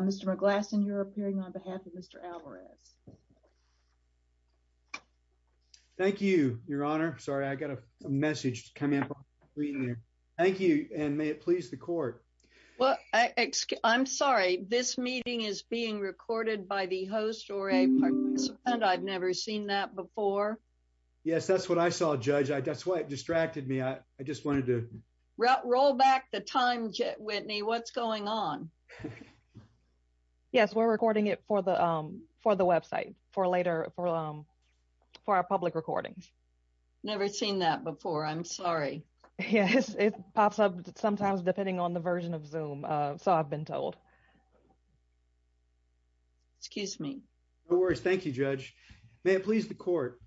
Mr. McGlasson, you're appearing on behalf of Mr. Alvarez. Thank you, your honor. Sorry, I got a message coming up on the screen there. Thank you, and may it please the court. Well, I'm sorry, this meeting is being recorded by the host or a partner, and I've never seen that before. Yes, that's what I saw, Judge, I guess what distracted me, I just wanted to roll back the time jet Whitney, what's going on? Yes, we're recording it for the for the website for later for for our public recordings. Never seen that before. I'm sorry. Yes, it pops up sometimes depending on the version of Zoom. So I've been told. Excuse me. No worries. Thank you, Judge. May it please the court.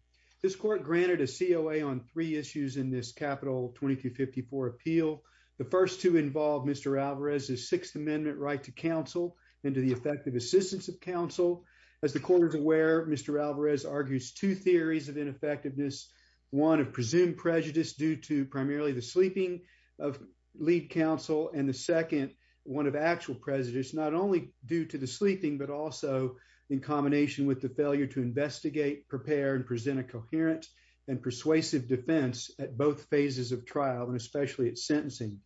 This court granted a COA on three issues in this capital 2254 appeal. The first to involve Mr. Alvarez is Sixth Amendment right to counsel into the effective assistance of counsel. As the court is aware, Mr. Alvarez argues two theories of ineffectiveness, one of presumed prejudice due to primarily the sleeping of lead counsel and the second one of actual prejudice not only due to the sleeping, but also in combination with the failure to investigate, prepare and present a coherent and persuasive defense at both phases of trial and especially at sentencing.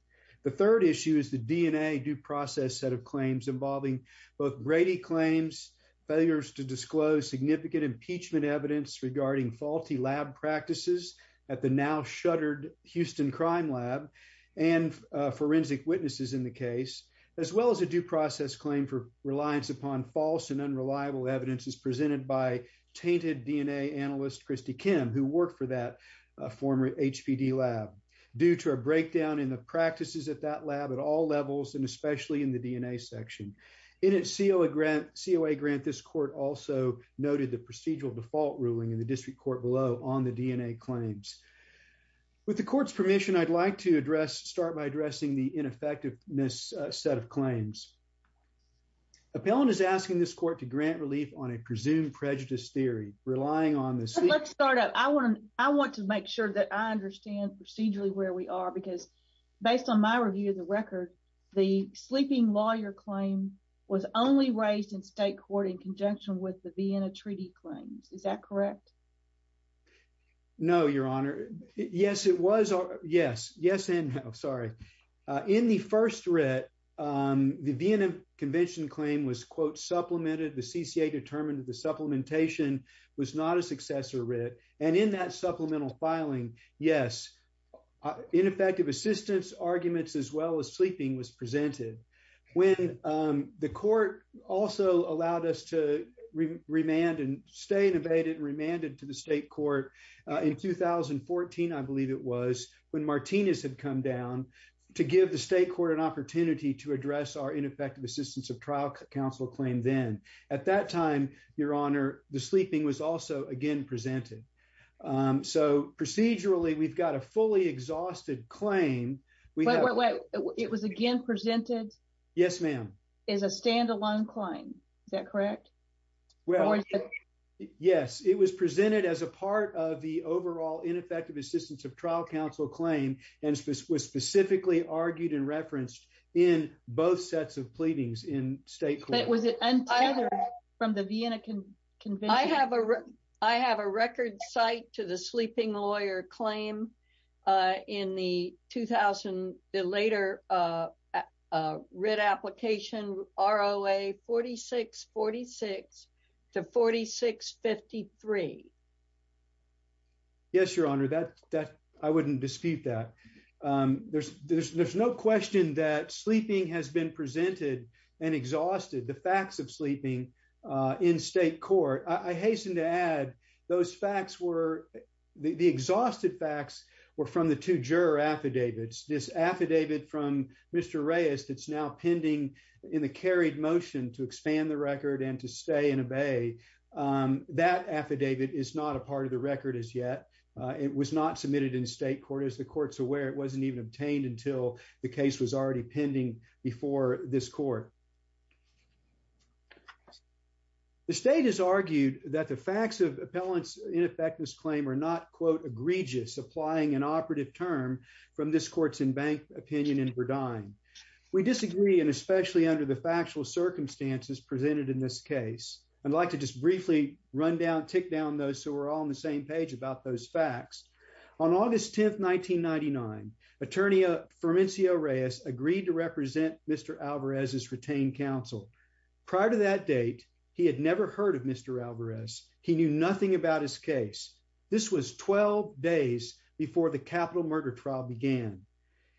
The third issue is the DNA due process set of claims involving both Brady claims, failures to disclose significant impeachment evidence regarding faulty lab practices at the now shuttered Houston Crime Lab and forensic witnesses in the case, as well as a due process claim for reliance upon false and unreliable evidence is presented by tainted DNA analyst Christy Kim, who worked for that former HPD lab due to a breakdown in the practices at that lab at all levels and especially in the DNA section in its COA grant COA grant. This court also noted the procedural default ruling in the district court below on the DNA claims. With the court's permission, I'd like to address start by addressing the ineffectiveness set of claims. Appellant is asking this court to grant relief on a presumed prejudice theory relying on this. Let's start out. I want to I want to make sure that I understand procedurally where we are because based on my review of the record, the sleeping lawyer claim was only raised in state court in conjunction with the Vienna Treaty claims. Is that correct? No, Your Honor. Yes, it was. Yes. Yes. And I'm sorry. In the first read, the Vienna Convention claim was, quote, supplemented the CCA determined that the supplementation was not a successor read. And in that supplemental filing, yes, ineffective assistance arguments as well as sleeping was presented when the court also allowed us to remand and stay and abated and remanded to the state court in 2014, I believe it was when Martinez had come down to give the state court an opportunity to address our ineffective assistance of trial counsel claim then. At that time, Your Honor, the sleeping was also again presented. So procedurally, we've got a fully exhausted claim. We know it was again presented. Yes, ma'am. Is a standalone claim. Is that correct? Well, yes, it was presented as a part of the overall ineffective assistance of trial counsel claim and was specifically argued and referenced in both sets of pleadings in state. Was it from the Vienna Convention? I have a record site to the sleeping lawyer claim in the 2000, the later writ application R.O.A. 4646 to 4653. Yes, Your Honor, that that I wouldn't dispute that there's no question that sleeping has been presented and exhausted the facts of sleeping in state court. I hasten to add those facts were the exhausted facts were from the two juror affidavits. This affidavit from Mr. Reyes that's now pending in the carried motion to expand the record and to stay and obey that affidavit is not a part of the record as yet. It was not submitted in state court as the court's aware it wasn't even obtained until the case was already pending before this court. The state has argued that the facts of appellants in effect this claim are not quote egregious applying an operative term from this court's in bank opinion in Verdine. We disagree and especially under the factual circumstances presented in this case. I'd like to just briefly run down, take down those who are all on the same page about those facts. On August 10th, 1999, attorney Fermencio Reyes agreed to represent Mr. Alvarez's retained counsel prior to that date. He had never heard of Mr. Alvarez. He knew nothing about his case. This was 12 days before the capital murder trial began,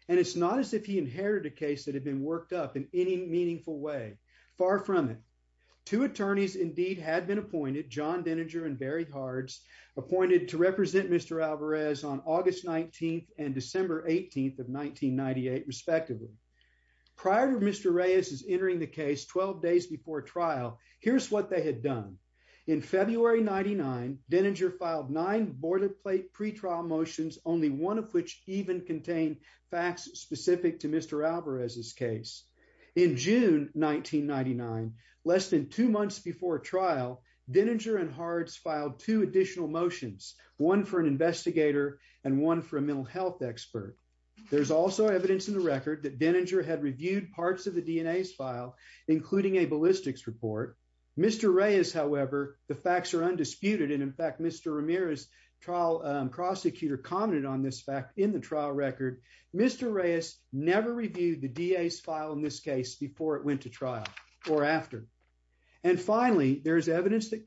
and it's not as if he inherited a case that had been worked up in any meaningful way. Far from it. Two attorneys indeed had been appointed John Denninger and Barry Hards appointed to represent Mr. Alvarez on August 19th and December 18th of 1998 respectively. Prior to Mr. Reyes's entering the case 12 days before trial, here's what they had done. In February 99, Denninger filed nine boarded plate pretrial motions, only one of which even contained facts specific to Mr. Alvarez's case. In June 1999, less than two months before trial, Denninger and Hards filed two additional motions, one for an investigator and one for a mental health expert. There's also evidence in the record that Denninger had reviewed parts of the DNA's file, including a ballistics report. Mr. Reyes, however, the facts are undisputed and in fact, Mr. Ramirez trial prosecutor commented on this fact in the trial record. Mr. Reyes never reviewed the DA's file in this case before it went to trial or after. And finally, there's evidence that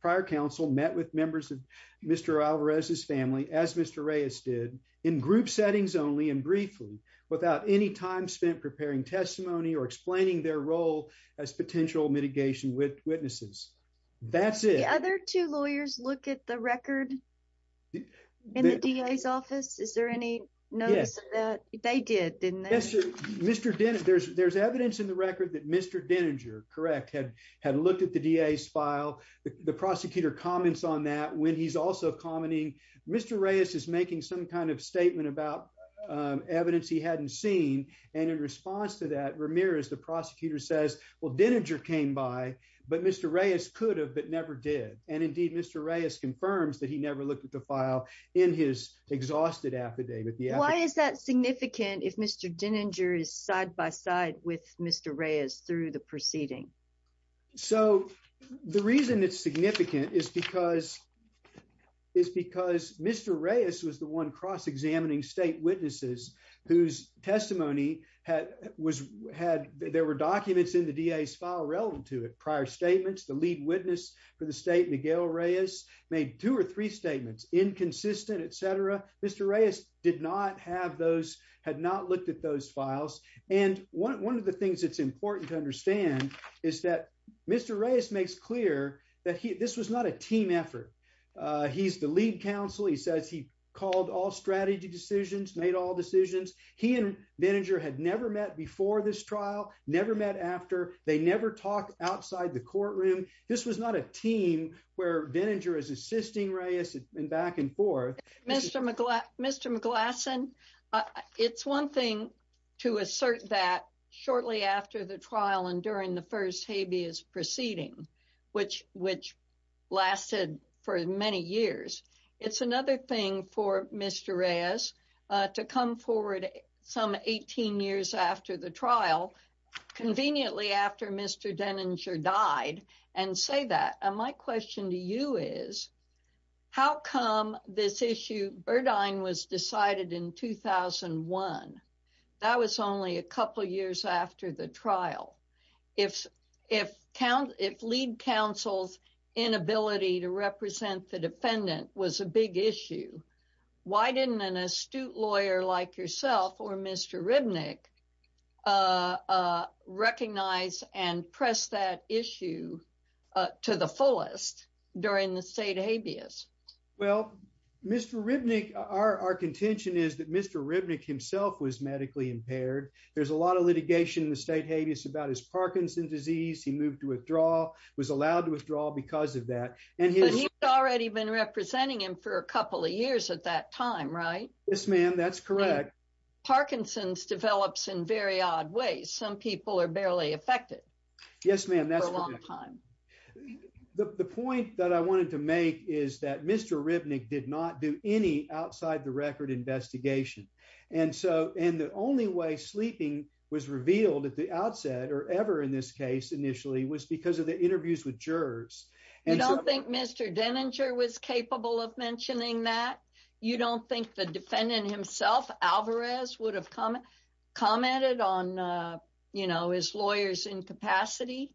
prior counsel met with members of Mr. Alvarez's family, as Mr. Reyes did, in group settings only and briefly, without any time spent preparing testimony or explaining their role as potential mitigation witnesses. That's it. The other two lawyers look at the record in the DA's office? Is there any notice of that? They did, didn't they? Yes, there's evidence in the record that Mr. Denninger, correct, had looked at the DA's file. The prosecutor comments on that when he's also commenting, Mr. Reyes is making some kind of statement about evidence he hadn't seen. And in response to that, Ramirez, the prosecutor says, well, Denninger came by, but Mr. Reyes could have, but never did. And indeed, Mr. Reyes confirms that he never looked at the file in his exhausted affidavit. Why is that significant if Mr. Denninger is side by side with Mr. Reyes through the proceeding? So the reason it's significant is because Mr. Reyes was the one cross-examining state witnesses whose testimony had, there were documents in the DA's file relevant to it. Prior statements, the lead witness for the state, Miguel Reyes, made two or three statements, inconsistent, et cetera. Mr. Reyes did not have those, had not looked at those files. And one of the things that's important to understand is that Mr. Reyes makes clear that this was not a team effort. He's the lead counsel. He says he called all strategy decisions, made all decisions. He and Denninger had never met before this trial, never met after. They never talked outside the courtroom. This was not a team where Denninger is assisting Reyes and back and forth. Mr. McGlasson, it's one thing to assert that shortly after the trial and during the first habeas proceeding, which lasted for many years. It's another thing for Mr. Reyes to come forward some 18 years after the trial, conveniently after Mr. Denninger died, and say that. And my question to you is, how come this issue, Burdine was decided in 2001? That was only a couple of years after the trial. If lead counsel's inability to represent the defendant was a big issue, why didn't an astute during the state habeas? Well, Mr. Ribnick, our contention is that Mr. Ribnick himself was medically impaired. There's a lot of litigation in the state habeas about his Parkinson's disease. He moved to withdraw, was allowed to withdraw because of that. And he's already been representing him for a couple of years at that time, right? Yes, ma'am. That's correct. Parkinson's develops in very odd ways. Some people are barely affected. Yes, ma'am. The point that I wanted to make is that Mr. Ribnick did not do any outside the record investigation. And so, and the only way sleeping was revealed at the outset or ever in this case initially was because of the interviews with jurors. And I don't think Mr. Denninger was capable of mentioning that. You don't think the defendant himself, Alvarez, would have commented on, you know, his lawyer's incapacity?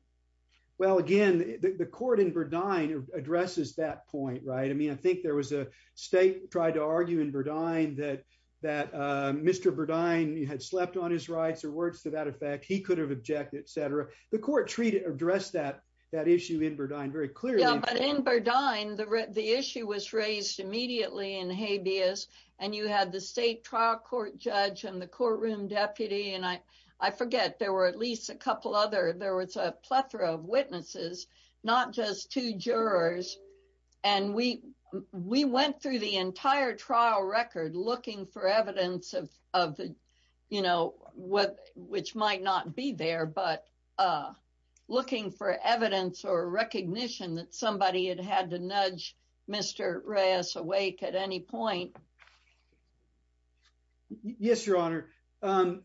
Well, again, the court in Burdine addresses that point, right? I mean, I think there was a state tried to argue in Burdine that Mr. Burdine had slept on his rights or words to that effect. He could have objected, et cetera. The court treated or addressed that issue in Burdine very clearly. Yeah, but in Burdine, the issue was raised immediately in habeas. And you had the state trial court judge and the courtroom deputy. And I forget, there were at least a couple other, there was a plethora of witnesses, not just two jurors. And we went through the entire trial record looking for evidence of, you know, which might not be there, but looking for evidence or recognition that somebody had had to nudge Mr. Reyes awake at any point. Yes, your honor. Can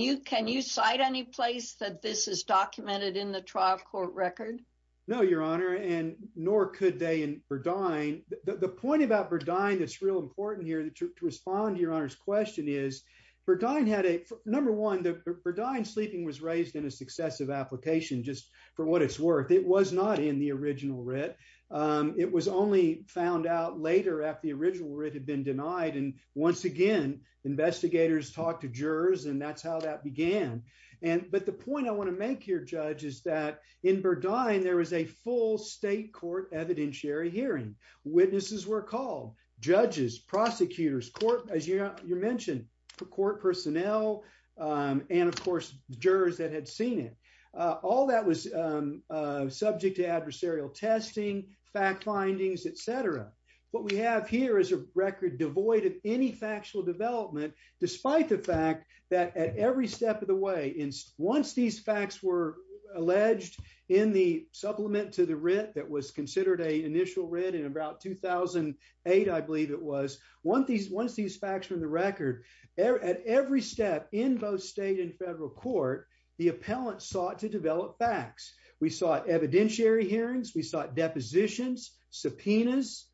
you cite any place that this is documented in the trial court record? No, your honor, and nor could they in Burdine. The point about Burdine that's real important here to respond to your honor's question is Burdine had a, number one, the Burdine sleeping was raised in a successive application just for what it's worth. It was not in the original writ. It was only found out later after the original writ had been denied. And once again, investigators talked to jurors and that's how that began. But the point I want to make here, judge, is that in Burdine, there was a full state court evidentiary hearing. Witnesses were called, judges, prosecutors, court, as you mentioned, court personnel, and of course, jurors that had seen it. All that was subject to adversarial testing, fact findings, et cetera. What we have here is a record devoid of any factual development, despite the fact that at every step of the way, once these facts were alleged in the supplement to the writ that was considered a initial writ in about 2008, I believe it was, once these facts were in the record, at every step in both state and federal court, the appellant sought to develop facts. We sought evidentiary hearings, we sought depositions, subpoenas,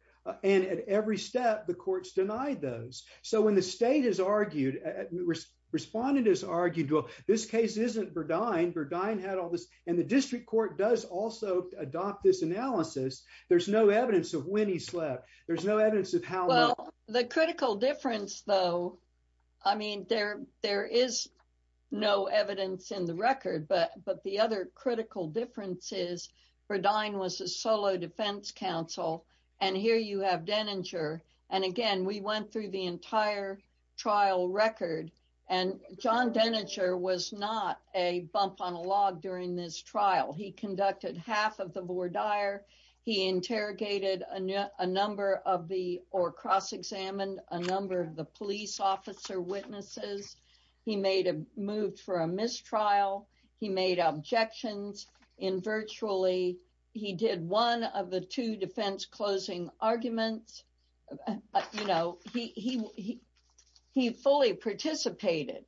and at every step, the courts denied those. So when the state has argued, respondent has argued, well, this case isn't Burdine, Burdine had all this, and the district court does also adopt this analysis. There's no evidence of when he slept. There's no evidence of how- Well, the critical difference though, I mean, there is no evidence in the record, but the other critical difference is Burdine was a solo defense counsel, and here you have Denninger, and again, we went through the entire trial record, and John Denninger was not a bump on a log during this trial. He conducted half of the voir dire, he interrogated a number of the, or cross-examined a number of the police officer witnesses, he made a move for a mistrial, he made objections in virtually, he did one of the two defense closing arguments, you know, he fully participated.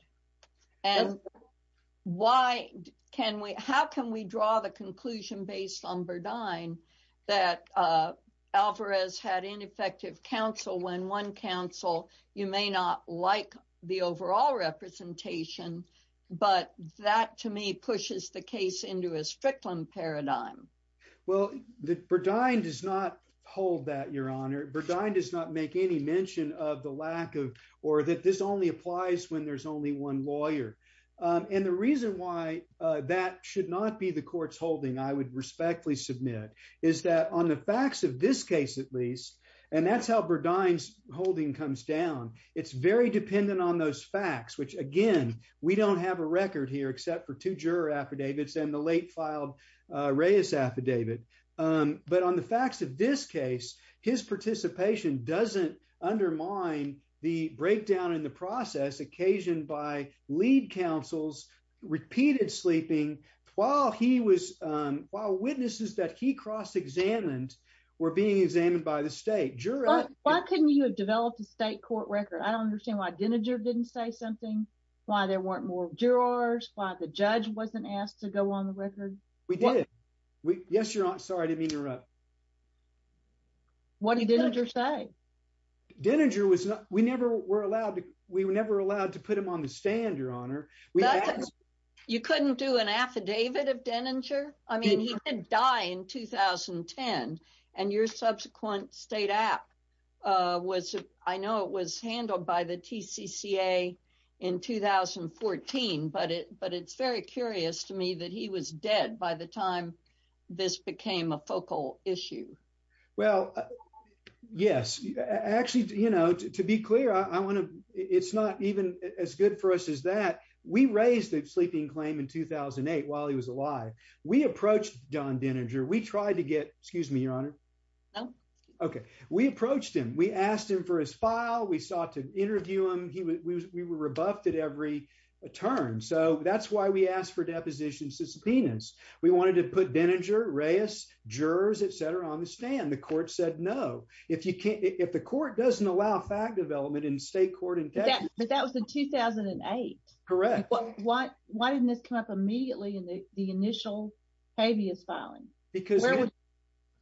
And why can we, how can we draw the conclusion based on Burdine that Alvarez had ineffective counsel when one counsel, you may not like the overall representation, but that to me pushes the case into a Strickland paradigm? Well, Burdine does not hold that, Your Honor. Burdine does not make any mention of the lack of, or that this only applies when there's only one lawyer. And the reason why that should not be the court's holding, I would respectfully submit, is that on the facts of this case, at least, and that's how Burdine's holding comes down. It's very dependent on those facts, which again, we don't have a record here except for two juror affidavits and the late filed Reyes affidavit. But on the facts of this case, his participation doesn't undermine the breakdown in the process occasioned by lead counsel's repeated sleeping while he was, while witnesses that he cross-examined were being examined by the state juror. Why couldn't you have developed a state court record? I don't understand why Deninger didn't say something, why there weren't more jurors, why the judge wasn't asked to go on the record. We did. Yes, Your Honor. Sorry, I didn't mean to interrupt. What did Deninger say? Deninger was not, we never were allowed to, we were never allowed to put him on the stand, Your Honor. You couldn't do an affidavit of Deninger? I mean, he didn't die in 2010. And your subsequent state act was, I know it was handled by the TCCA in 2014, but it, but it's very curious to me that he was dead by the time this became a focal issue. Well, yes, actually, you know, to be clear, I want to, it's not even as good for us as that. We raised the sleeping claim in 2008 while he was alive. We approached Don Deninger. We tried to get, excuse me, Your Honor. No. Okay. We approached him. We asked him for his file. We sought to interview him. He was, we were rebuffed at every turn. So that's why we asked for depositions to subpoenas. We wanted to put Deninger, Reyes, jurors, et cetera, on the stand. The court said, no, if you can't, if the court doesn't allow fact development in state court in Texas. But that was in 2008. Correct. Why, why didn't this come up immediately in the initial habeas filing? Because,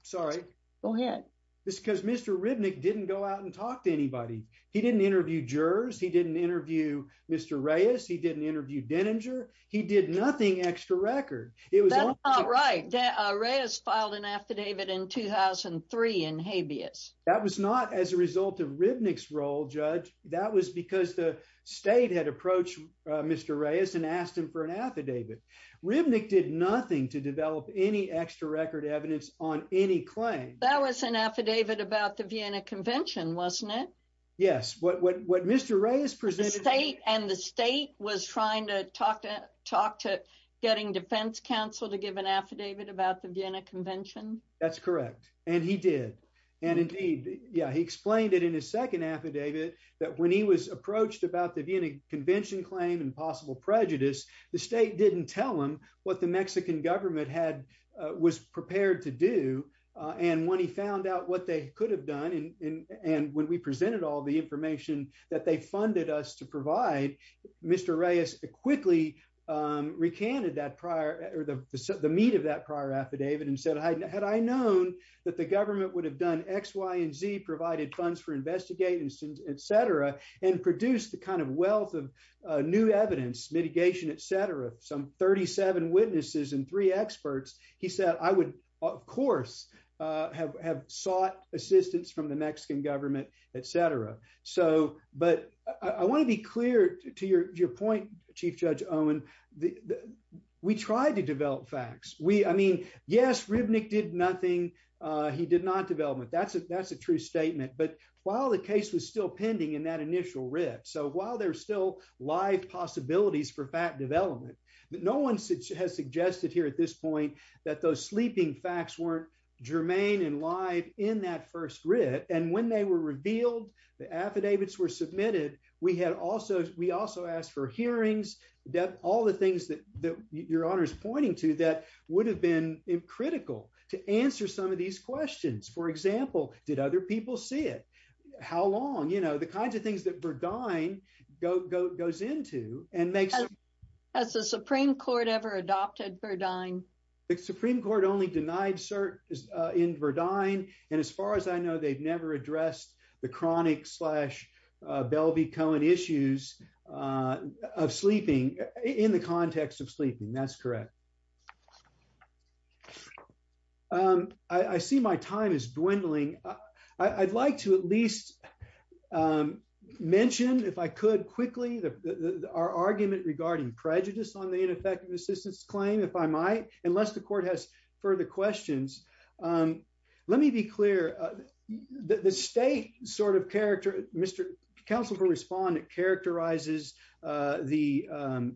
sorry. Go ahead. This is because Mr. Ribnick didn't go out and talk to anybody. He didn't interview jurors. He didn't interview Mr. Reyes. He didn't interview Deninger. He did nothing extra record. It was- That's not right. Reyes filed an affidavit in 2003 in habeas. That was not as a result of Ribnick's role, Judge. That was because the state had approached Mr. Reyes and asked him for an affidavit. Ribnick did nothing to develop any extra record evidence on any claim. That was an affidavit about the Vienna Convention, wasn't it? Yes. What Mr. Reyes presented- And the state was trying to talk to, talk to getting defense counsel to give an affidavit about the Vienna Convention? That's correct. And he did. And indeed, yeah, he explained it in his second affidavit that when he was approached about the Vienna Convention claim and possible prejudice, the state didn't tell him what the Mexican government had, was prepared to do. And when he found out what they could have done, and when we presented all the information that they funded us to provide, Mr. Reyes quickly recanted that prior, or the meat of that prior affidavit and said, had I known that the government would have done X, Y, and Z, provided funds for investigating, et cetera, and produced the kind of wealth of new evidence, mitigation, et cetera, some 37 witnesses and three experts, he said, I would, of course, have sought assistance from the Mexican government, et cetera. So, but I want to be clear to your point, Chief Judge Owen, we tried to develop facts. We, I mean, yes, Ribnick did nothing. He did not develop it. That's a, that's a true statement. But while the case was still pending in that initial writ. So while there's still live possibilities for fact development, no one has suggested here at this point that those sleeping facts weren't germane and live in that first writ. And when they were revealed, the affidavits were submitted. We had also, we also asked for hearings, all the things that your Honor is pointing to that would have been critical to answer some of these questions. For example, did other people see it? How long? You know, the kinds of things that Verdine goes into and makes. Has the Supreme Court ever adopted Verdine? The Supreme Court only denied cert in Verdine. And as far as I know, they've never addressed the chronic slash Belvey-Cohen issues of sleeping in the context of sleeping. That's correct. I see my time is dwindling. I'd like to at least mention if I could quickly, our argument regarding prejudice on the ineffective assistance claim, if I might, unless the court has further questions. Let me be clear. The state sort of character, Mr. Counsel for Respondent characterizes the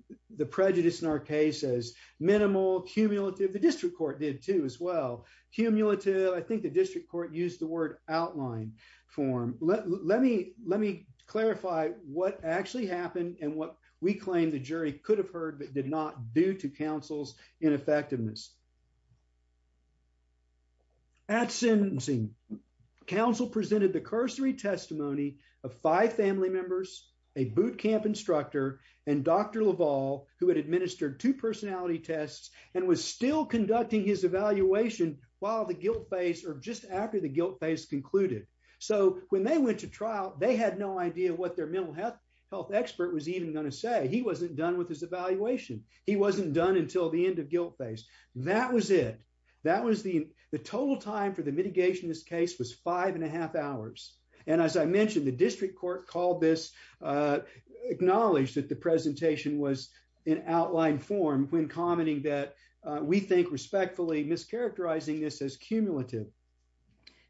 prejudice in our case as minimal, cumulative. The district court did too as well. Cumulative, I think the district court used the word outline form. Let me clarify what actually happened and what we claim the jury could have heard, did not due to counsel's ineffectiveness. At sentencing, counsel presented the cursory testimony of five family members, a boot camp instructor, and Dr. Laval, who had administered two personality tests and was still conducting his evaluation while the guilt phase or just after the guilt phase concluded. So when they went to trial, they had no idea what their mental health expert was even going to say. He wasn't done with his evaluation. He wasn't done until the end of guilt phase. That was it. That was the total time for the mitigation. This case was five and a half hours. And as I mentioned, the district court called this acknowledged that the presentation was an outline form when commenting that we think respectfully mischaracterizing this as cumulative.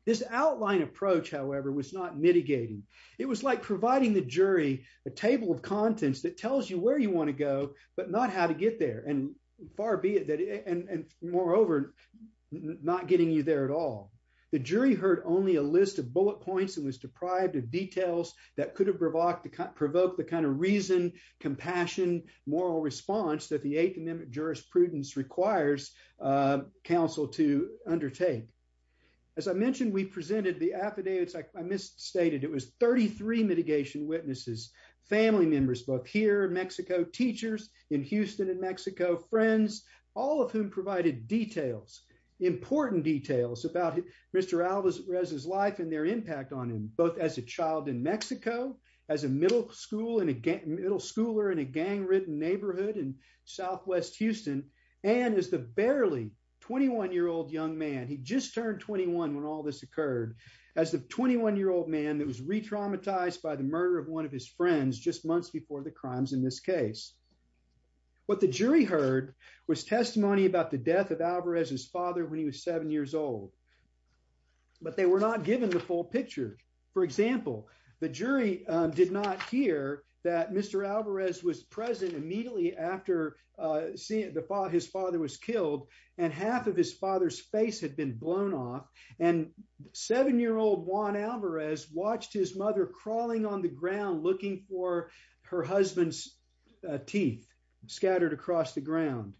This outline approach, however, was not mitigating. It was like providing the jury a table of contents that tells you where you want to go, but not how to get there. And moreover, not getting you there at all. The jury heard only a list of bullet points and was deprived of details that could have provoked the kind of reason, compassion, moral response that the Eighth Amendment jurisprudence requires counsel to undertake. As I mentioned, we presented the affidavits. I misstated. It was 33 mitigation witnesses, family members, both here in Mexico, teachers in Houston and Mexico, friends, all of whom provided details, important details about Mr. Alvarez's life and their impact on him, both as a child in Mexico, as a middle school and a middle schooler in a gang-ridden neighborhood in Southwest Houston, and as the barely 21-year-old young man. He just turned 21 when all this occurred. As the 21-year-old man that was re-traumatized by the murder of one of his friends just months before the crimes in this case, what the jury heard was testimony about the death of Alvarez's father when he was seven years old, but they were not given the full picture. For example, the jury did not hear that Mr. Alvarez was present immediately after his father was killed and half of his father's face had been blown off, and seven-year-old Juan Alvarez watched his mother crawling on the ground looking for her husband's teeth scattered across the ground.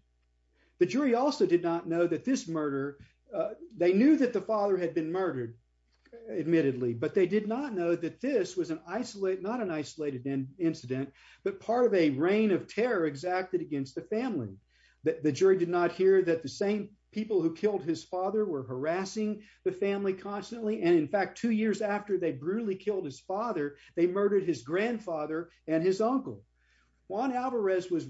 The jury also did not know that this murder, they knew that the father had been murdered, admittedly, but they did not know that this was an isolated, not an isolated incident, but part of a reign of terror exacted against the family. The jury did not hear that the same people who killed his father were harassing the family constantly, and in fact, two years after they brutally killed his father, they murdered his grandfather and his uncle. Juan Alvarez was,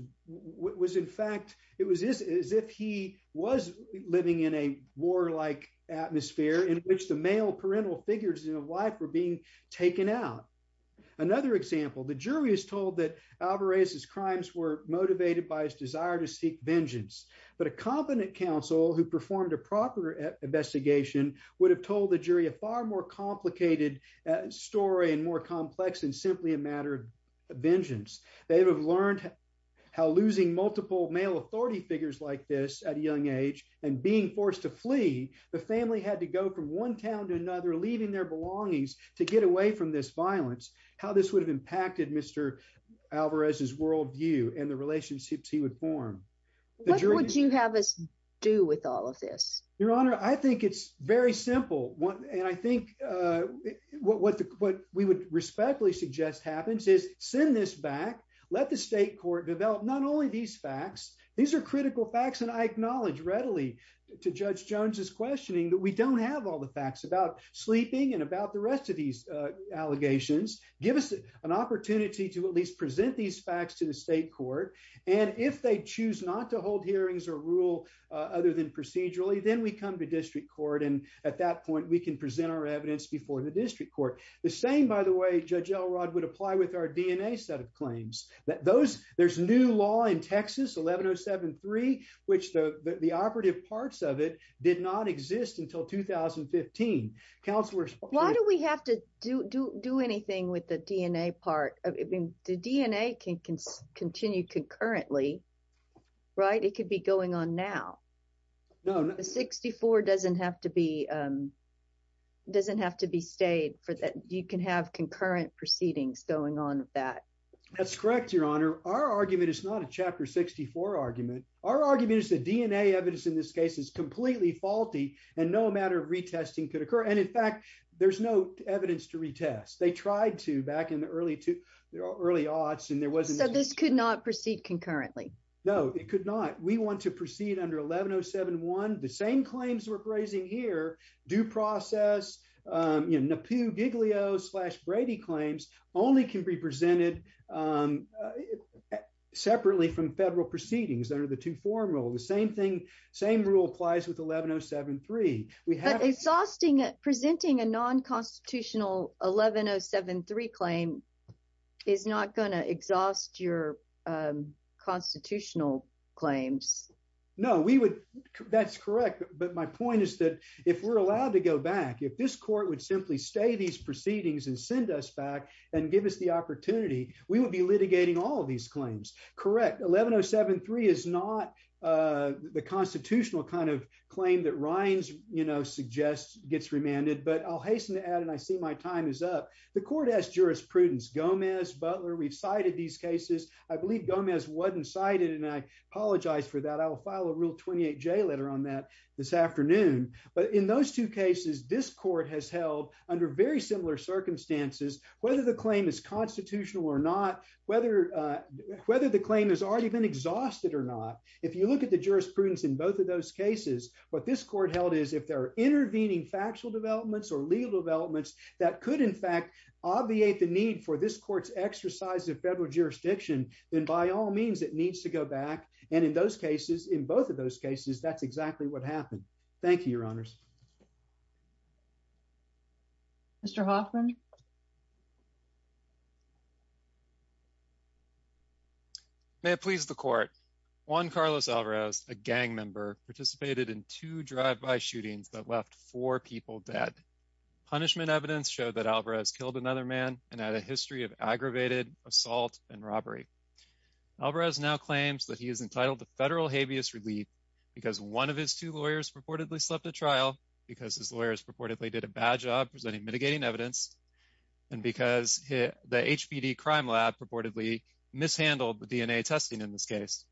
in fact, it was as if he was living in a war-like atmosphere in which the male parental figures in his life were being taken out. Another example, the jury is told that Alvarez's crimes were motivated by his desire to seek vengeance, but a competent counsel who performed a proper investigation would have told the jury a far more complicated story and more complex than simply a matter of vengeance. They would have learned how losing multiple male authority figures like this at a young age and being forced to flee, the family had to go from one town to another, leaving their how this would have impacted Mr. Alvarez's world view and the relationships he would form. What would you have us do with all of this? Your Honor, I think it's very simple, and I think what we would respectfully suggest happens is send this back, let the state court develop not only these facts, these are critical facts, and I acknowledge readily to Judge Jones's questioning that we don't have all the facts about sleeping and about the rest of these allegations, give us an opportunity to at least present these facts to the state court, and if they choose not to hold hearings or rule other than procedurally, then we come to district court and at that point we can present our evidence before the district court. The same, by the way, Judge Elrod would apply with our DNA set of claims. There's new law in Texas, 11073, which the operative parts of it did not exist until 2015. Why do we have to do anything with the DNA part? The DNA can continue concurrently, right? It could be going on now. The 64 doesn't have to be stayed, you can have concurrent proceedings going on with that. That's correct, Your Honor. Our argument is not a Chapter 64 argument. Our argument is the DNA evidence in this case is completely faulty and no matter of retesting could occur, and in fact, there's no evidence to retest. They tried to back in the early aughts and there wasn't. So this could not proceed concurrently? No, it could not. We want to proceed under 11071. The same claims we're raising here, due process, NAPU, Giglio, slash Brady claims, only can be presented separately from federal proceedings under the two-form rule. The same rule applies with 11073. Presenting a non-constitutional 11073 claim is not going to exhaust your constitutional claims. No, that's correct. But my point is that if we're allowed to go back, if this court would simply stay these we would be litigating all of these claims. Correct. 11073 is not the constitutional kind of claim that Rines suggests gets remanded. But I'll hasten to add, and I see my time is up. The court has jurisprudence. Gomez, Butler, we've cited these cases. I believe Gomez wasn't cited, and I apologize for that. I will file a Rule 28J letter on that this afternoon. But in those two cases, this court has held under very similar circumstances, whether the claim is constitutional or not, whether the claim has already been exhausted or not. If you look at the jurisprudence in both of those cases, what this court held is if they're intervening factual developments or legal developments that could, in fact, obviate the need for this court's exercise of federal jurisdiction, then by all means, it needs to go back. And in those cases, in both of those cases, that's exactly what happened. Thank you, Your Honors. Mr. Hoffman? May it please the Court. Juan Carlos Alvarez, a gang member, participated in two drive-by shootings that left four people dead. Punishment evidence showed that Alvarez killed another man and had a history of aggravated assault and robbery. Alvarez now claims that he is entitled to federal habeas relief because one of his two because his lawyers purportedly did a bad job presenting mitigating evidence, and because the HPD crime lab purportedly mishandled the DNA testing in this case.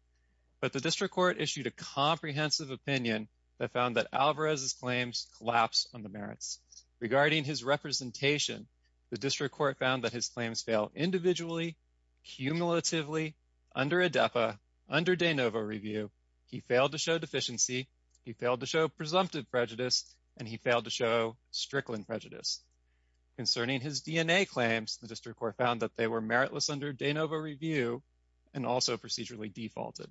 But the district court issued a comprehensive opinion that found that Alvarez's claims collapsed on the merits. Regarding his representation, the district court found that his claims fail individually, cumulatively, under ADEPA, under de novo review. He failed to show deficiency. He failed to show presumptive prejudice. And he failed to show strickland prejudice. Concerning his DNA claims, the district court found that they were meritless under de novo review and also procedurally defaulted.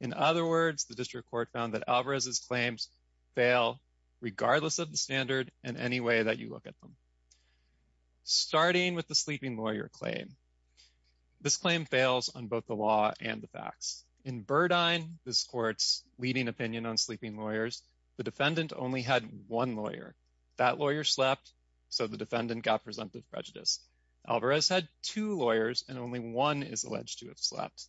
In other words, the district court found that Alvarez's claims fail regardless of the standard in any way that you look at them. Starting with the sleeping lawyer claim. This claim fails on both the law and the facts. In Burdine, this court's leading opinion on sleeping lawyers, the defendant only had one lawyer. That lawyer slept, so the defendant got presumptive prejudice. Alvarez had two lawyers, and only one is alleged to have slept.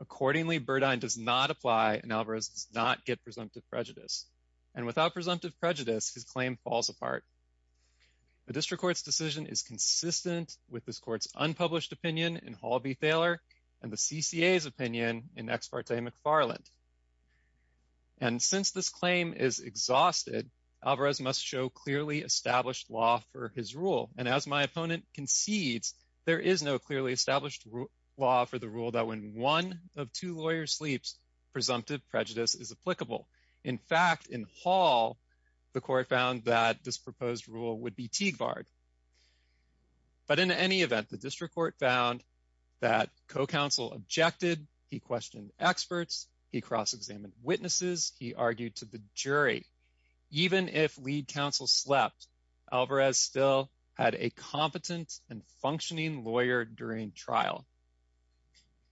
Accordingly, Burdine does not apply, and Alvarez does not get presumptive prejudice. And without presumptive prejudice, his claim falls apart. The district court's decision is consistent with this court's unpublished opinion in Hall v. McFarland. And since this claim is exhausted, Alvarez must show clearly established law for his rule. And as my opponent concedes, there is no clearly established law for the rule that when one of two lawyers sleeps, presumptive prejudice is applicable. In fact, in Hall, the court found that this proposed rule would be Teaguard. But in any event, the district court found that co-counsel objected, he questioned experts, he cross-examined witnesses, he argued to the jury. Even if lead counsel slept, Alvarez still had a competent and functioning lawyer during trial.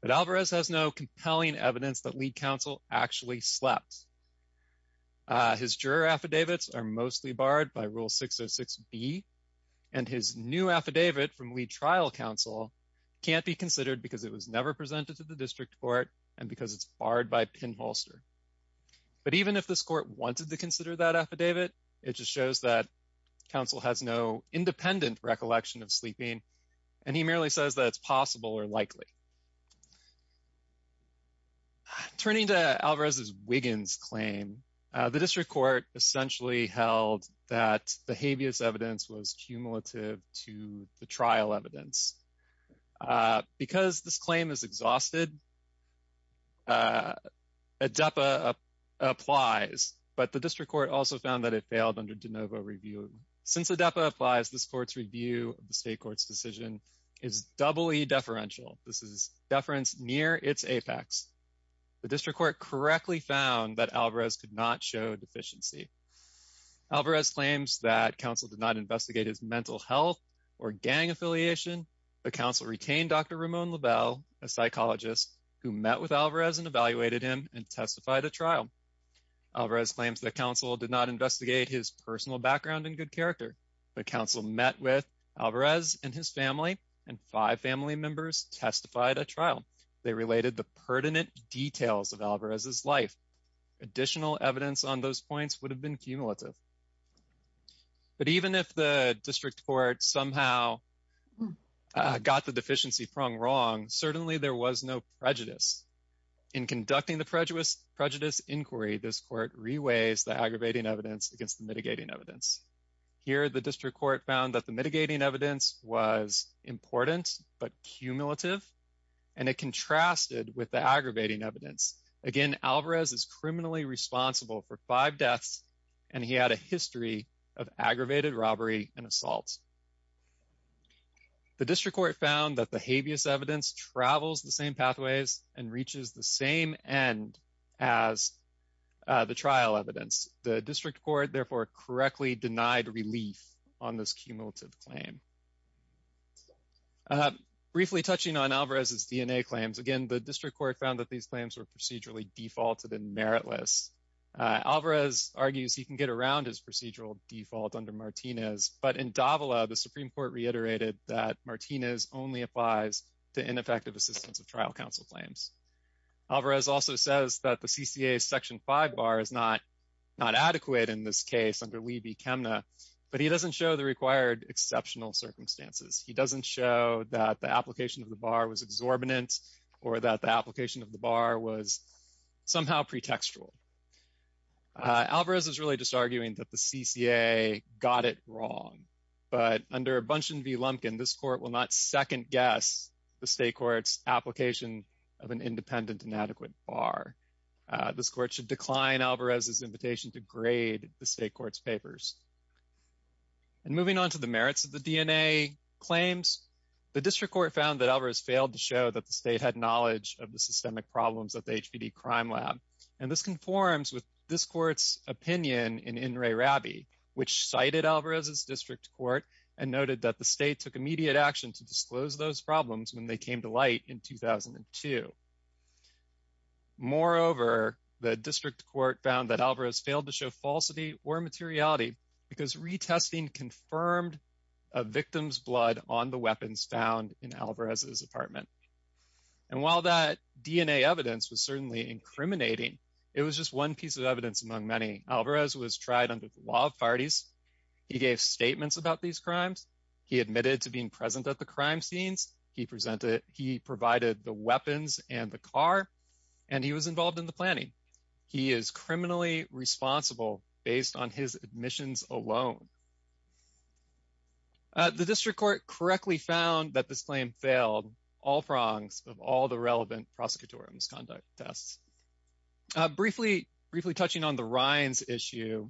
But Alvarez has no compelling evidence that lead counsel actually slept. His juror affidavits are mostly barred by Rule 606B, and his new affidavit from lead trial counsel can't be considered because it was never presented to the district court and because it's barred by pinholster. But even if this court wanted to consider that affidavit, it just shows that counsel has no independent recollection of sleeping, and he merely says that it's possible or likely. Turning to Alvarez's Wiggins claim, the district court essentially held that the habeas evidence was cumulative to the trial evidence. Because this claim is exhausted, ADEPA applies, but the district court also found that it failed under de novo review. Since ADEPA applies, this court's review of the state court's decision is doubly deferential. This is deference near its apex. The district court correctly found that Alvarez could not show deficiency. Alvarez claims that counsel did not investigate his mental health or gang affiliation, but counsel retained Dr. Ramon Labelle, a psychologist, who met with Alvarez and evaluated him and testified at trial. Alvarez claims that counsel did not investigate his personal background and good character, but counsel met with Alvarez and his family, and five family members testified at trial. They related the pertinent details of Alvarez's life. Additional evidence on those points would have been cumulative. But even if the district court somehow got the deficiency prong wrong, certainly there was no prejudice. In conducting the prejudice inquiry, this court reweighs the aggravating evidence against the mitigating evidence. Here, the district court found that the mitigating evidence was important but cumulative, and it contrasted with the aggravating evidence. Again, Alvarez is criminally responsible for five deaths, and he had a history of aggravated robbery and assault. The district court found that the habeas evidence travels the same pathways and reaches the same end as the trial evidence. The district court, therefore, correctly denied relief on this cumulative claim. Briefly touching on Alvarez's DNA claims, again, the district court found that these claims were procedurally defaulted and meritless. Alvarez argues he can get around his procedural default under Martinez, but in Davila, the Supreme Court reiterated that Martinez only applies to ineffective assistance of trial counsel claims. Alvarez also says that the CCA's Section 5 bar is not adequate in this case under Lee B. Chemna, but he doesn't show the required exceptional circumstances. He doesn't show that the application of the bar was exorbitant or that the application of the bar was somehow pretextual. Alvarez is really just arguing that the CCA got it wrong, but under Bündchen v. Independent and Adequate Bar, this court should decline Alvarez's invitation to grade the state court's papers. And moving on to the merits of the DNA claims, the district court found that Alvarez failed to show that the state had knowledge of the systemic problems of the HPD crime lab. And this conforms with this court's opinion in In re Rabi, which cited Alvarez's district court and noted that the state took immediate action to disclose those problems when they came to light in 2002. Moreover, the district court found that Alvarez failed to show falsity or materiality because retesting confirmed a victim's blood on the weapons found in Alvarez's apartment. And while that DNA evidence was certainly incriminating, it was just one piece of evidence among many. Alvarez was tried under the law of parties. He gave statements about these crimes. He admitted to being present at the crime scenes. He presented. He provided the weapons and the car, and he was involved in the planning. He is criminally responsible based on his admissions alone. The district court correctly found that this claim failed all prongs of all the relevant prosecutorial misconduct tests. Briefly touching on the Rines issue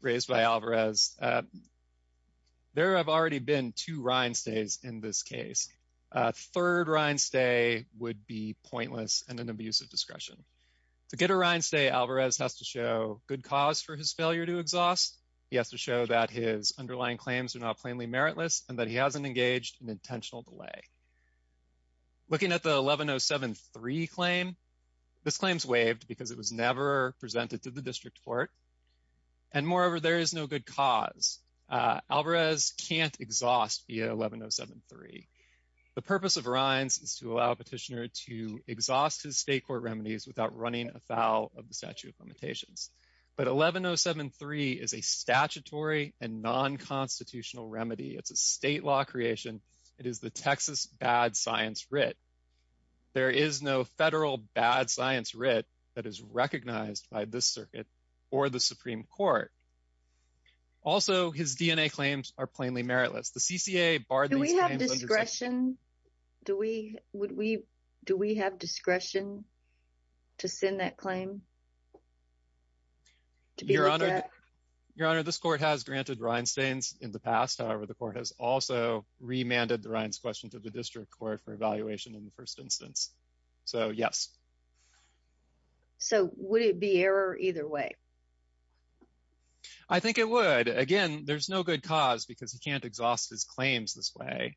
raised by Alvarez, there have already been two Rines days in this case. Third Rines day would be pointless and an abuse of discretion. To get a Rines day, Alvarez has to show good cause for his failure to exhaust. He has to show that his underlying claims are not plainly meritless and that he hasn't engaged in intentional delay. Looking at the 11073 claim, this claim is waived because it was never presented to the district court. And moreover, there is no good cause. Alvarez can't exhaust via 11073. The purpose of Rines is to allow a petitioner to exhaust his state court remedies without running afoul of the statute of limitations. But 11073 is a statutory and non-constitutional remedy. It's a state law creation. It is the Texas bad science writ. There is no federal bad science writ that is recognized by this circuit or the Supreme Court. Also, his DNA claims are plainly meritless. Do we have discretion? Do we have discretion to send that claim? Your Honor, this court has granted Rines stains in the past. However, the court has also remanded the Rines question to the district court for evaluation in the first instance. So yes. So would it be error either way? I think it would. Again, there's no good cause because he can't exhaust his claims this way.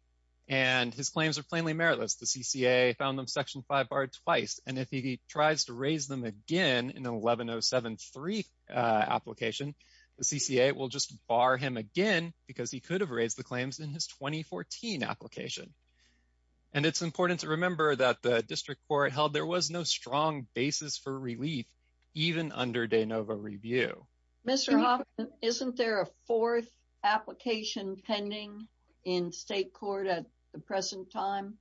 And his claims are plainly meritless. The CCA found them section 5 barred twice. And if he tries to raise them again in 11073 application, the CCA will just bar him again because he could have raised the claims in his 2014 application. And it's important to remember that the district court held there was no strong basis for relief even under de novo review. Mr. Hoffman, isn't there a fourth application pending in state court at the present time?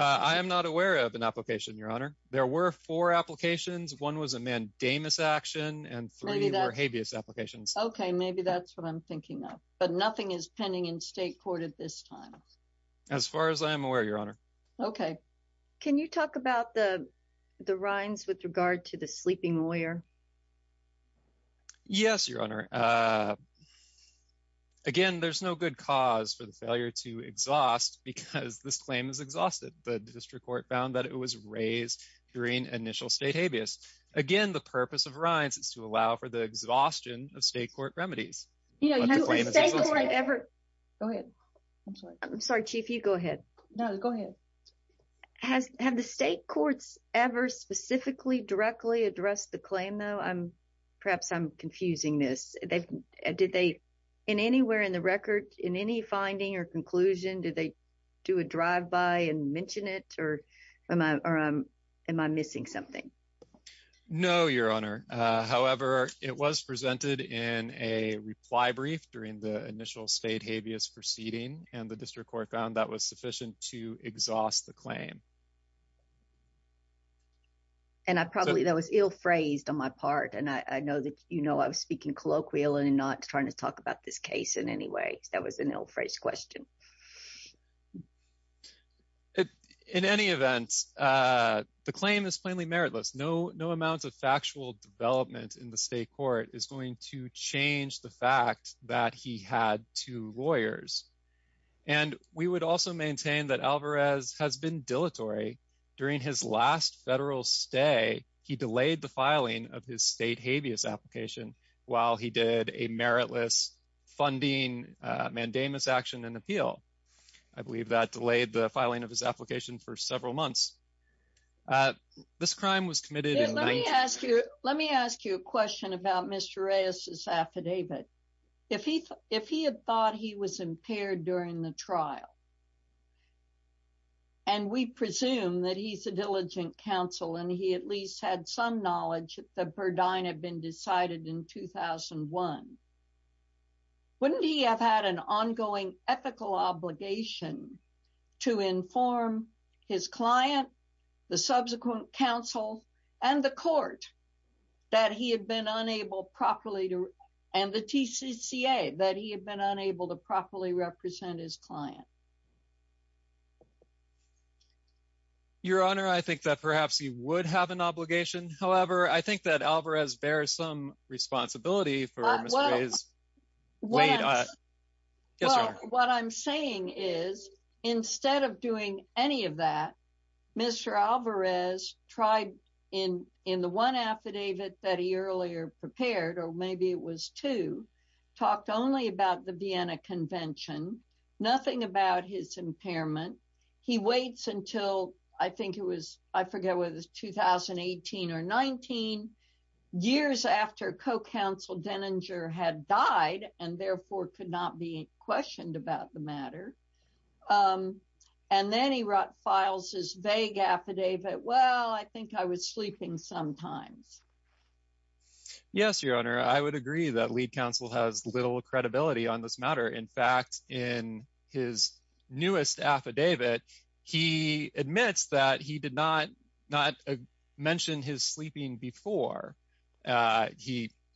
I am not aware of an application, Your Honor. There were four applications. One was a mandamus action and three were habeas applications. OK, maybe that's what I'm thinking of. But nothing is pending in state court at this time. As far as I am aware, Your Honor. OK. Can you talk about the rinds with regard to the sleeping lawyer? Yes, Your Honor. Again, there's no good cause for the failure to exhaust because this claim is exhausted. The district court found that it was raised during initial state habeas. Again, the purpose of rinds is to allow for the exhaustion of state court remedies. Go ahead. I'm sorry, Chief. You go ahead. No, go ahead. Has have the state courts ever specifically directly addressed the claim, though? I'm perhaps I'm confusing this. Did they in anywhere in the record in any finding or conclusion? Did they do a drive by and mention it? Or am I missing something? No, Your Honor. However, it was presented in a reply brief during the initial state habeas proceeding and the district court found that was sufficient to exhaust the claim. And I probably that was ill phrased on my part, and I know that, you know, I was speaking colloquial and not trying to talk about this case in any way. That was an ill phrased question. In any event, the claim is plainly meritless. No, no amount of factual development in the state court is going to change the fact that he had two lawyers. And we would also maintain that Alvarez has been dilatory. During his last federal stay, he delayed the filing of his state habeas application while he did a meritless funding mandamus action and appeal. I believe that delayed the filing of his application for several months. This crime was committed. Let me ask you a question about Mr. Reyes's affidavit. If he had thought he was impaired during the trial, and we presume that he's a diligent counsel, and he at least had some knowledge that the Burdine had been decided in 2001, wouldn't he have had an ongoing ethical obligation to inform his client, the subsequent counsel, and the court that he had been unable properly to and the TCCA that he had been unable to properly represent his client? Your Honor, I think that perhaps he would have an obligation. However, I think that Alvarez bears some responsibility for Mr. Reyes. What I'm saying is, instead of doing any of that, Mr. Alvarez tried in the one affidavit that he earlier prepared, or maybe it was two, talked only about the Vienna Convention, nothing about his impairment. He waits until, I think it was, I forget whether it was 2018 or 19, years after co-counsel Denninger had died and therefore could not be questioned about the matter. And then he files his vague affidavit, well, I think I was sleeping sometimes. Yes, Your Honor, I would agree that lead counsel has little credibility on this matter. In fact, in his newest affidavit, he admits that he did not mention his sleeping before.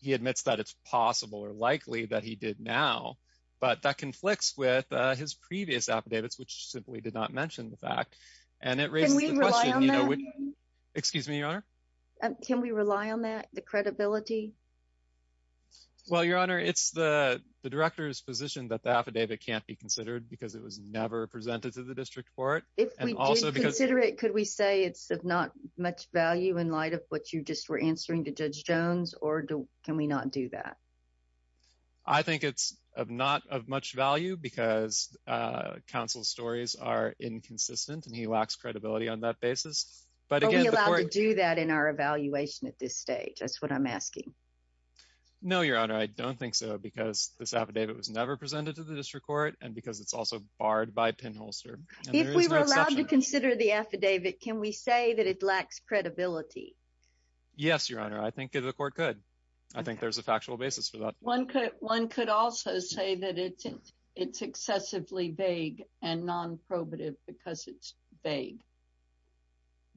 He admits that it's possible or likely that he did now, but that conflicts with his previous affidavits, which simply did not mention the fact. And it raises the question, you know, which- Can we rely on that? Excuse me, Your Honor? Can we rely on that, the credibility? Well, Your Honor, it's the director's position that the affidavit can't be considered because it was never presented to the district court. If we did consider it, could we say it's of not much value in light of what you just were answering to Judge Jones, or can we not do that? I think it's of not of much value because counsel's stories are inconsistent and he lacks credibility on that basis. Are we allowed to do that in our evaluation at this stage? That's what I'm asking. No, Your Honor, I don't think so because this affidavit was never presented to the district court and because it's also barred by pinholster. If we were allowed to consider the affidavit, can we say that it lacks credibility? Yes, Your Honor, I think the court could. I think there's a factual basis for that. One could also say that it's excessively vague and non-probative because it's vague.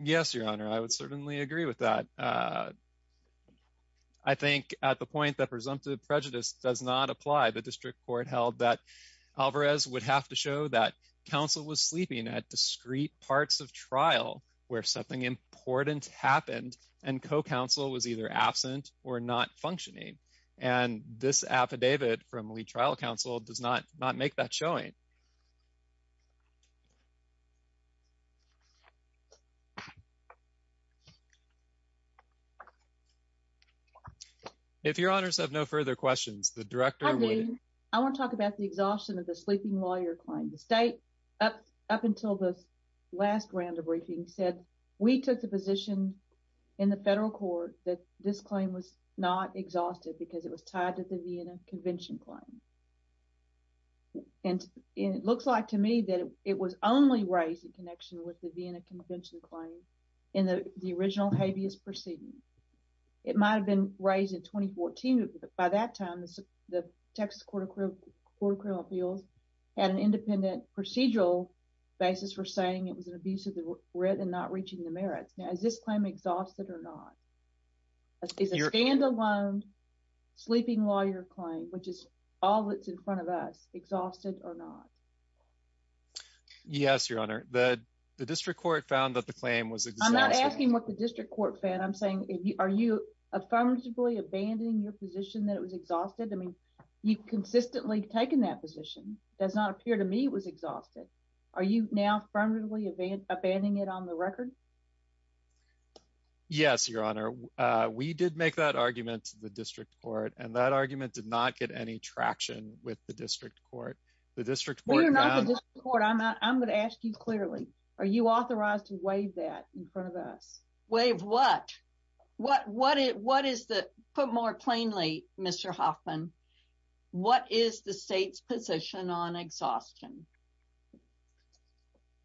Yes, Your Honor, I would certainly agree with that. I think at the point that presumptive prejudice does not apply, the district court held that Alvarez would have to show that counsel was sleeping at discrete parts of trial where something important happened and co-counsel was either absent or not functioning. And this affidavit from lead trial counsel does not make that showing. If Your Honors have no further questions, the director would- I mean, I want to talk about the exhaustion of the sleeping lawyer claim. The state, up until this last round of briefing, said we took the position in the federal court that this claim was not exhausted because it was tied to the Vienna Convention claim. And it looks like to me that it was only raised in connection with the Vienna Convention claim in the original habeas proceeding. It might've been raised in 2014, but by that time, the Texas Court of Criminal Appeals had an independent procedural basis for saying it was an abuse of the writ and not reaching the merits. Now, is this claim exhausted or not? Is a standalone sleeping lawyer claim, which is all that's in front of us, exhausted or not? Yes, Your Honor, the district court found that the claim was exhausted. I'm not asking what the district court found. I'm saying, are you affirmatively abandoning your position that it was exhausted? I mean, you've consistently taken that position. It does not appear to me it was exhausted. Are you now affirmatively abandoning it on the record? Yes, Your Honor. We did make that argument to the district court and that argument did not get any traction with the district court. The district court found- We are not the district court. I'm going to ask you clearly, are you authorized to waive that in front of us? Waive what? What is the... Put more plainly, Mr. Hoffman, what is the state's position on exhaustion?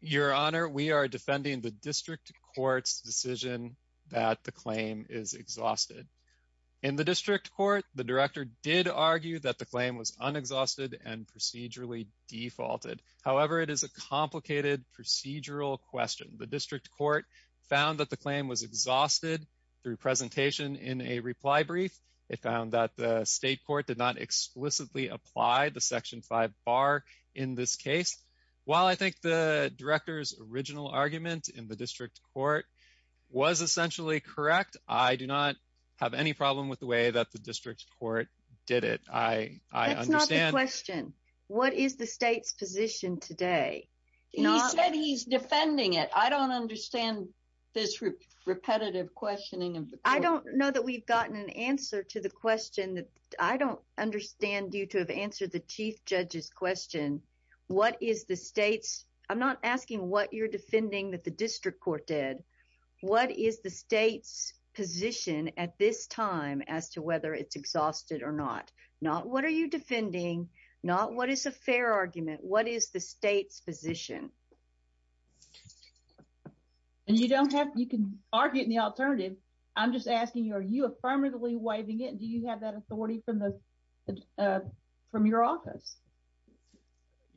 Your Honor, we are defending the district court's decision that the claim is exhausted. In the district court, the director did argue that the claim was unexhausted and procedurally defaulted. However, it is a complicated procedural question. The district court found that the claim was exhausted through presentation in a reply brief. It found that the state court did not explicitly apply the section five bar in this case. While I think the director's original argument in the district court was essentially correct, I do not have any problem with the way that the district court did it. I understand- That's not the question. What is the state's position today? He said he's defending it. I don't understand this repetitive questioning of the court. I don't know that we've gotten an answer to the question that I don't understand due to have answered the chief judge's question. What is the state's... I'm not asking what you're defending that the district court did. What is the state's position at this time as to whether it's exhausted or not? Not what are you defending? Not what is a fair argument? What is the state's position? And you don't have... You can argue in the alternative. I'm just asking you, are you affirmatively waiving it? Do you have that authority from your office?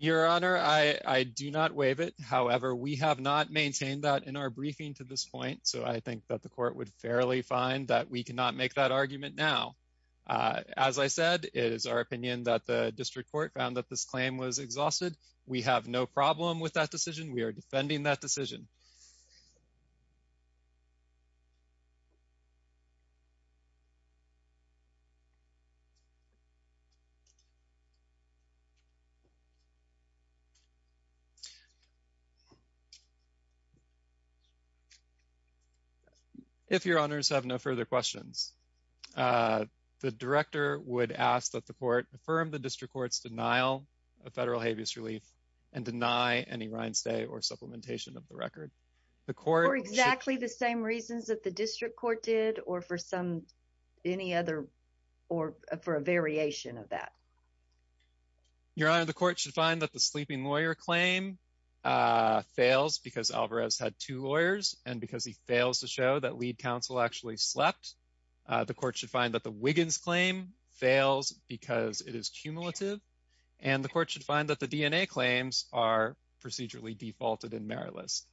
Your honor, I do not waive it. However, we have not maintained that in our briefing to this point. So I think that the court would fairly find that we cannot make that argument now. As I said, it is our opinion that the district court found that this claim was exhausted. We have no problem with that decision. We are defending that decision. If your honors have no further questions. The director would ask that the court affirm the district court's denial of federal habeas relief and deny any reinstatement or supplementation of the record. The court- For exactly the same reasons that the district court did or for some, any other, or for a variation of that. Your honor, the court should find that the sleeping lawyer claim fails because Alvarez had two lawyers. And because he fails to show that lead counsel actually slept, the court should find that the Wiggins claim fails because it is cumulative. And the court should find that the DNA claims are procedurally defaulted in merit list.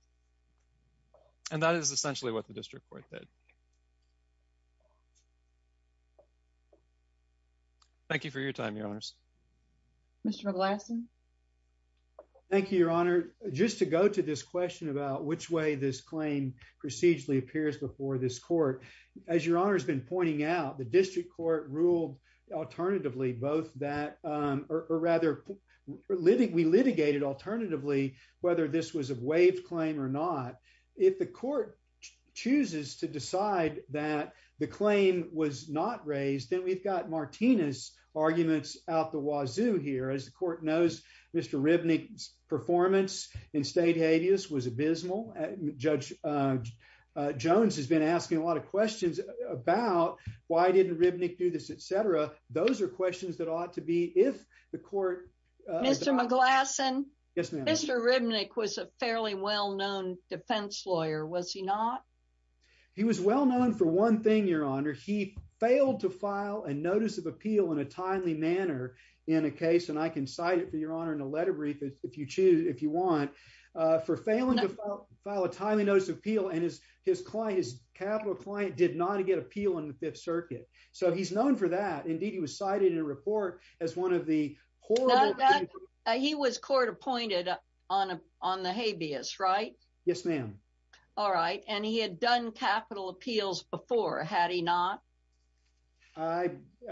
And that is essentially what the district court did. Thank you for your time, your honors. Mr. McLaughlin. Thank you, your honor. Just to go to this question about which way this claim procedurally appears before this court. As your honor has been pointing out, the district court ruled alternatively, both that, or rather, we litigated alternatively, whether this was a waived claim or not. If the court chooses to decide that the claim was not raised, then we've got Martinez's arguments out the wazoo here. As the court knows, Mr. Ribnick's performance in state habeas was abysmal. Judge Jones has been asking a lot of questions about why didn't Ribnick do this, et cetera. Those are questions that ought to be if the court- Mr. McLaughlin. Yes, ma'am. Mr. Ribnick was a fairly well-known defense lawyer. Was he not? He was well-known for one thing, your honor. He failed to file a notice of appeal in a timely manner in a case. And I can cite it for your honor in a letter brief if you choose, if you want. For failing to file a timely notice of appeal and his client, his capital client, did not get appeal on the Fifth Circuit. So he's known for that. Indeed, he was cited in a report as one of the horrible- He was court appointed on the habeas, right? Yes, ma'am. All right. And he had done capital appeals before, had he not?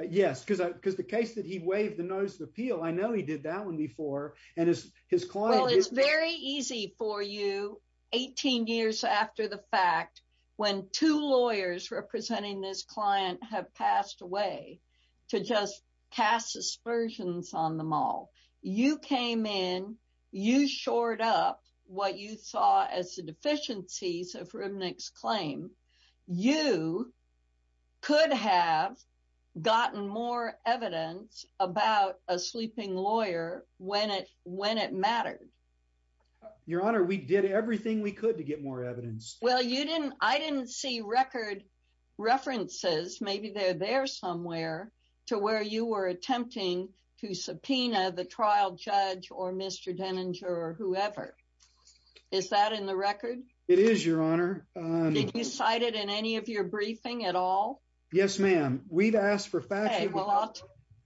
Yes, because the case that he waived the notice of appeal, I know he did that one before. And his client- Well, it's very easy for you. 18 years after the fact, when two lawyers representing this client have passed away to just cast aspersions on them all, you came in, you shored up what you saw as the deficiencies of Ribnick's claim. You could have gotten more evidence about a sleeping lawyer when it mattered. Your Honor, we did everything we could to get more evidence. Well, I didn't see record references, maybe they're there somewhere, to where you were attempting to subpoena the trial judge or Mr. Denninger or whoever. Is that in the record? It is, Your Honor. Did you cite it in any of your briefing at all? Yes, ma'am. We've asked for facts- Okay, well,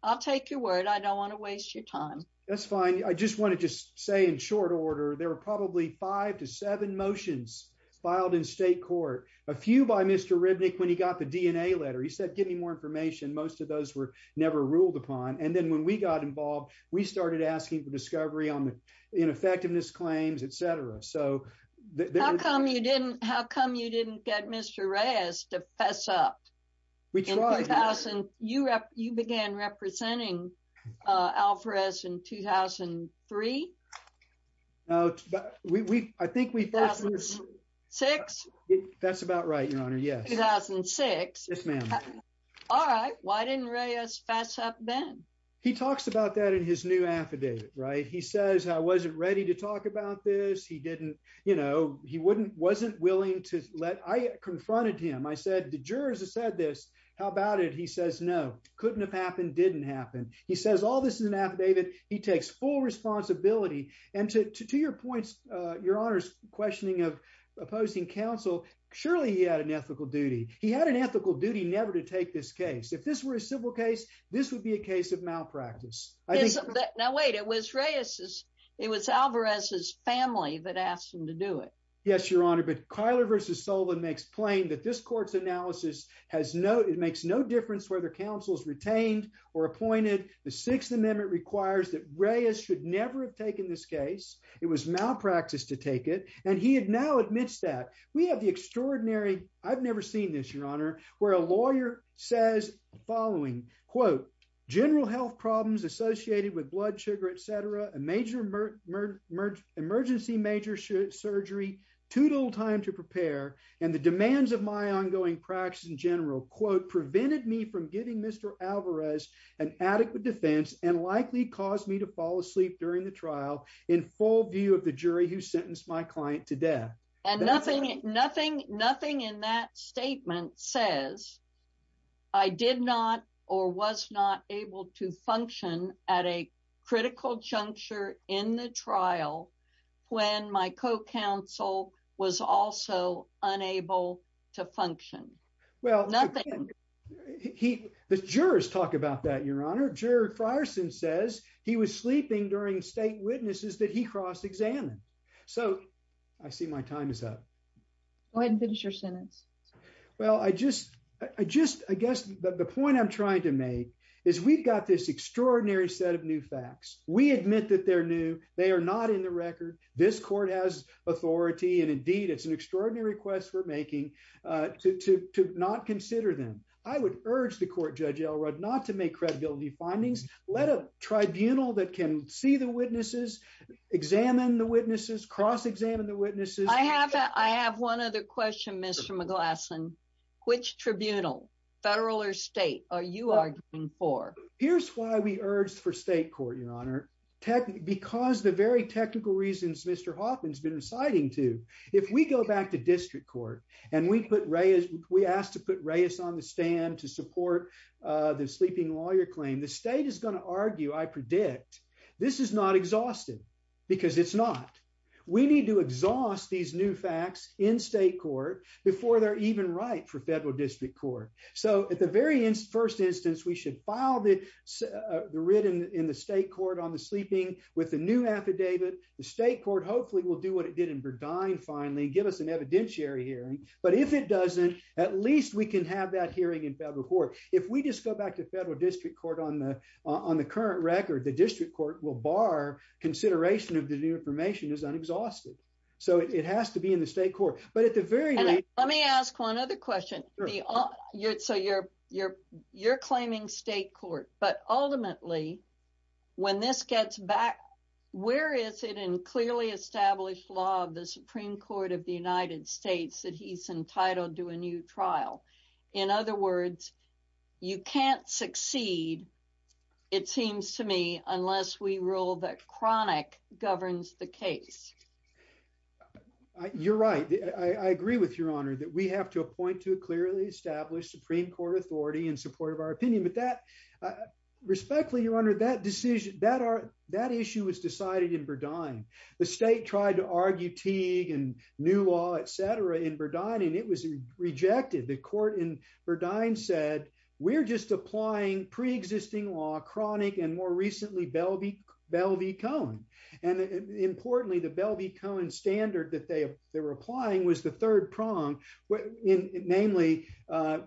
I'll take your word. I don't want to waste your time. That's fine. I just want to just say in short order, there were probably five to seven motions filed in state court, a few by Mr. Ribnick when he got the DNA letter. He said, give me more information. Most of those were never ruled upon. And then when we got involved, we started asking for discovery on the ineffectiveness claims, et cetera. So there- How come you didn't get Mr. Reyes to fess up? We tried, Your Honor. You began representing Alvarez in 2003? No, I think we- 2006? That's about right, Your Honor, yes. 2006? Yes, ma'am. All right. Why didn't Reyes fess up then? He talks about that in his new affidavit, right? He says, I wasn't ready to talk about this. He didn't, you know, he wasn't willing to let- I confronted him. I said, the jurors have said this. How about it? He says, no. Couldn't have happened. Didn't happen. He says, all this is an affidavit. He takes full responsibility. And to your points, Your Honor's questioning of opposing counsel, surely he had an ethical duty. He had an ethical duty never to take this case. If this were a civil case, this would be a case of malpractice. I think- Now wait, it was Reyes's. It was Alvarez's family that asked him to do it. Yes, Your Honor. But Kyler versus Sullivan makes plain that this court's analysis has no- it makes no difference whether counsel's retained or appointed. The Sixth Amendment requires that Reyes should never have taken this case. It was malpractice to take it. And he had now admits that. We have the extraordinary- I've never seen this, Your Honor, where a lawyer says the following, quote, general health problems associated with blood sugar, et cetera, a major- emergency major surgery, too little time to prepare, and the demands of my ongoing practice in general, quote, prevented me from giving Mr. Alvarez an adequate defense and likely caused me to fall asleep during the trial in full view of the jury who sentenced my client to death. And nothing in that statement says I did not or was not able to function at a critical juncture in the trial when my co-counsel was also unable to function. Well, he- the jurors talk about that, Your Honor. Jared Frierson says he was sleeping during state witnesses that he cross-examined. So I see my time is up. Go ahead and finish your sentence. Well, I just- I just- I guess the point I'm trying to make is we've got this extraordinary set of new facts. We admit that they're new. They are not in the record. This court has authority. And indeed, it's an extraordinary request we're making to- to- to not consider them. I would urge the court, Judge Elrod, not to make credibility findings. Let a tribunal that can see the witnesses, examine the witnesses, cross-examine the witnesses. I have- I have one other question, Mr. McGlasson. Which tribunal, federal or state, are you arguing for? Here's why we urged for state court, Your Honor. Because the very technical reasons Mr. Hoffman's been reciting to. If we go back to district court and we put Reyes- we asked to put Reyes on the stand to support the sleeping lawyer claim, the state is going to argue, I predict, this is not exhaustive because it's not. We need to exhaust these new facts in state court before they're even right for federal district court. So at the very first instance, we should file the writ in the state court on the sleeping with the new affidavit. The state court hopefully will do what it did in Verdine finally, give us an evidentiary hearing. But if it doesn't, at least we can have that hearing in federal court. If we just go back to federal district court on the- on the current record, the district court will bar consideration of the new information as unexhausted. So it has to be in the state court. But at the very- Let me ask one other question. So you're- you're- you're claiming state court, but ultimately, when this gets back, where is it in clearly established law of the Supreme Court of the United States that he's entitled to a new trial? In other words, you can't succeed, it seems to me, unless we rule that Cronic governs the case. You're right. I agree with your honor that we have to appoint to a clearly established Supreme Court authority in support of our opinion. But that- respectfully, your honor, that decision- that are- that issue was decided in Verdine. The state tried to argue Teague and new law, et cetera, in Verdine, and it was rejected. The court in Verdine said, we're just applying pre-existing law, Cronic, and more recently, Belvey- Belvey-Cohen. And importantly, the Belvey-Cohen standard that they were applying was the third prong, namely,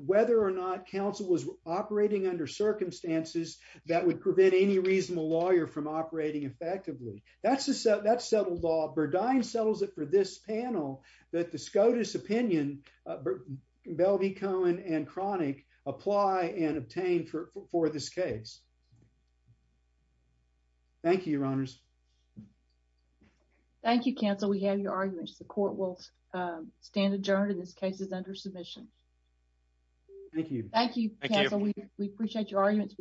whether or not counsel was operating under circumstances that would prevent any reasonable lawyer from operating effectively. That's settled law. Verdine settles it for this panel that the SCOTUS opinion, Belvey-Cohen and Cronic, apply and obtain for this case. Thank you, your honors. Thank you, counsel. We have your arguments. The court will stand adjourned. This case is under submission. Thank you. Thank you, counsel. We appreciate your arguments.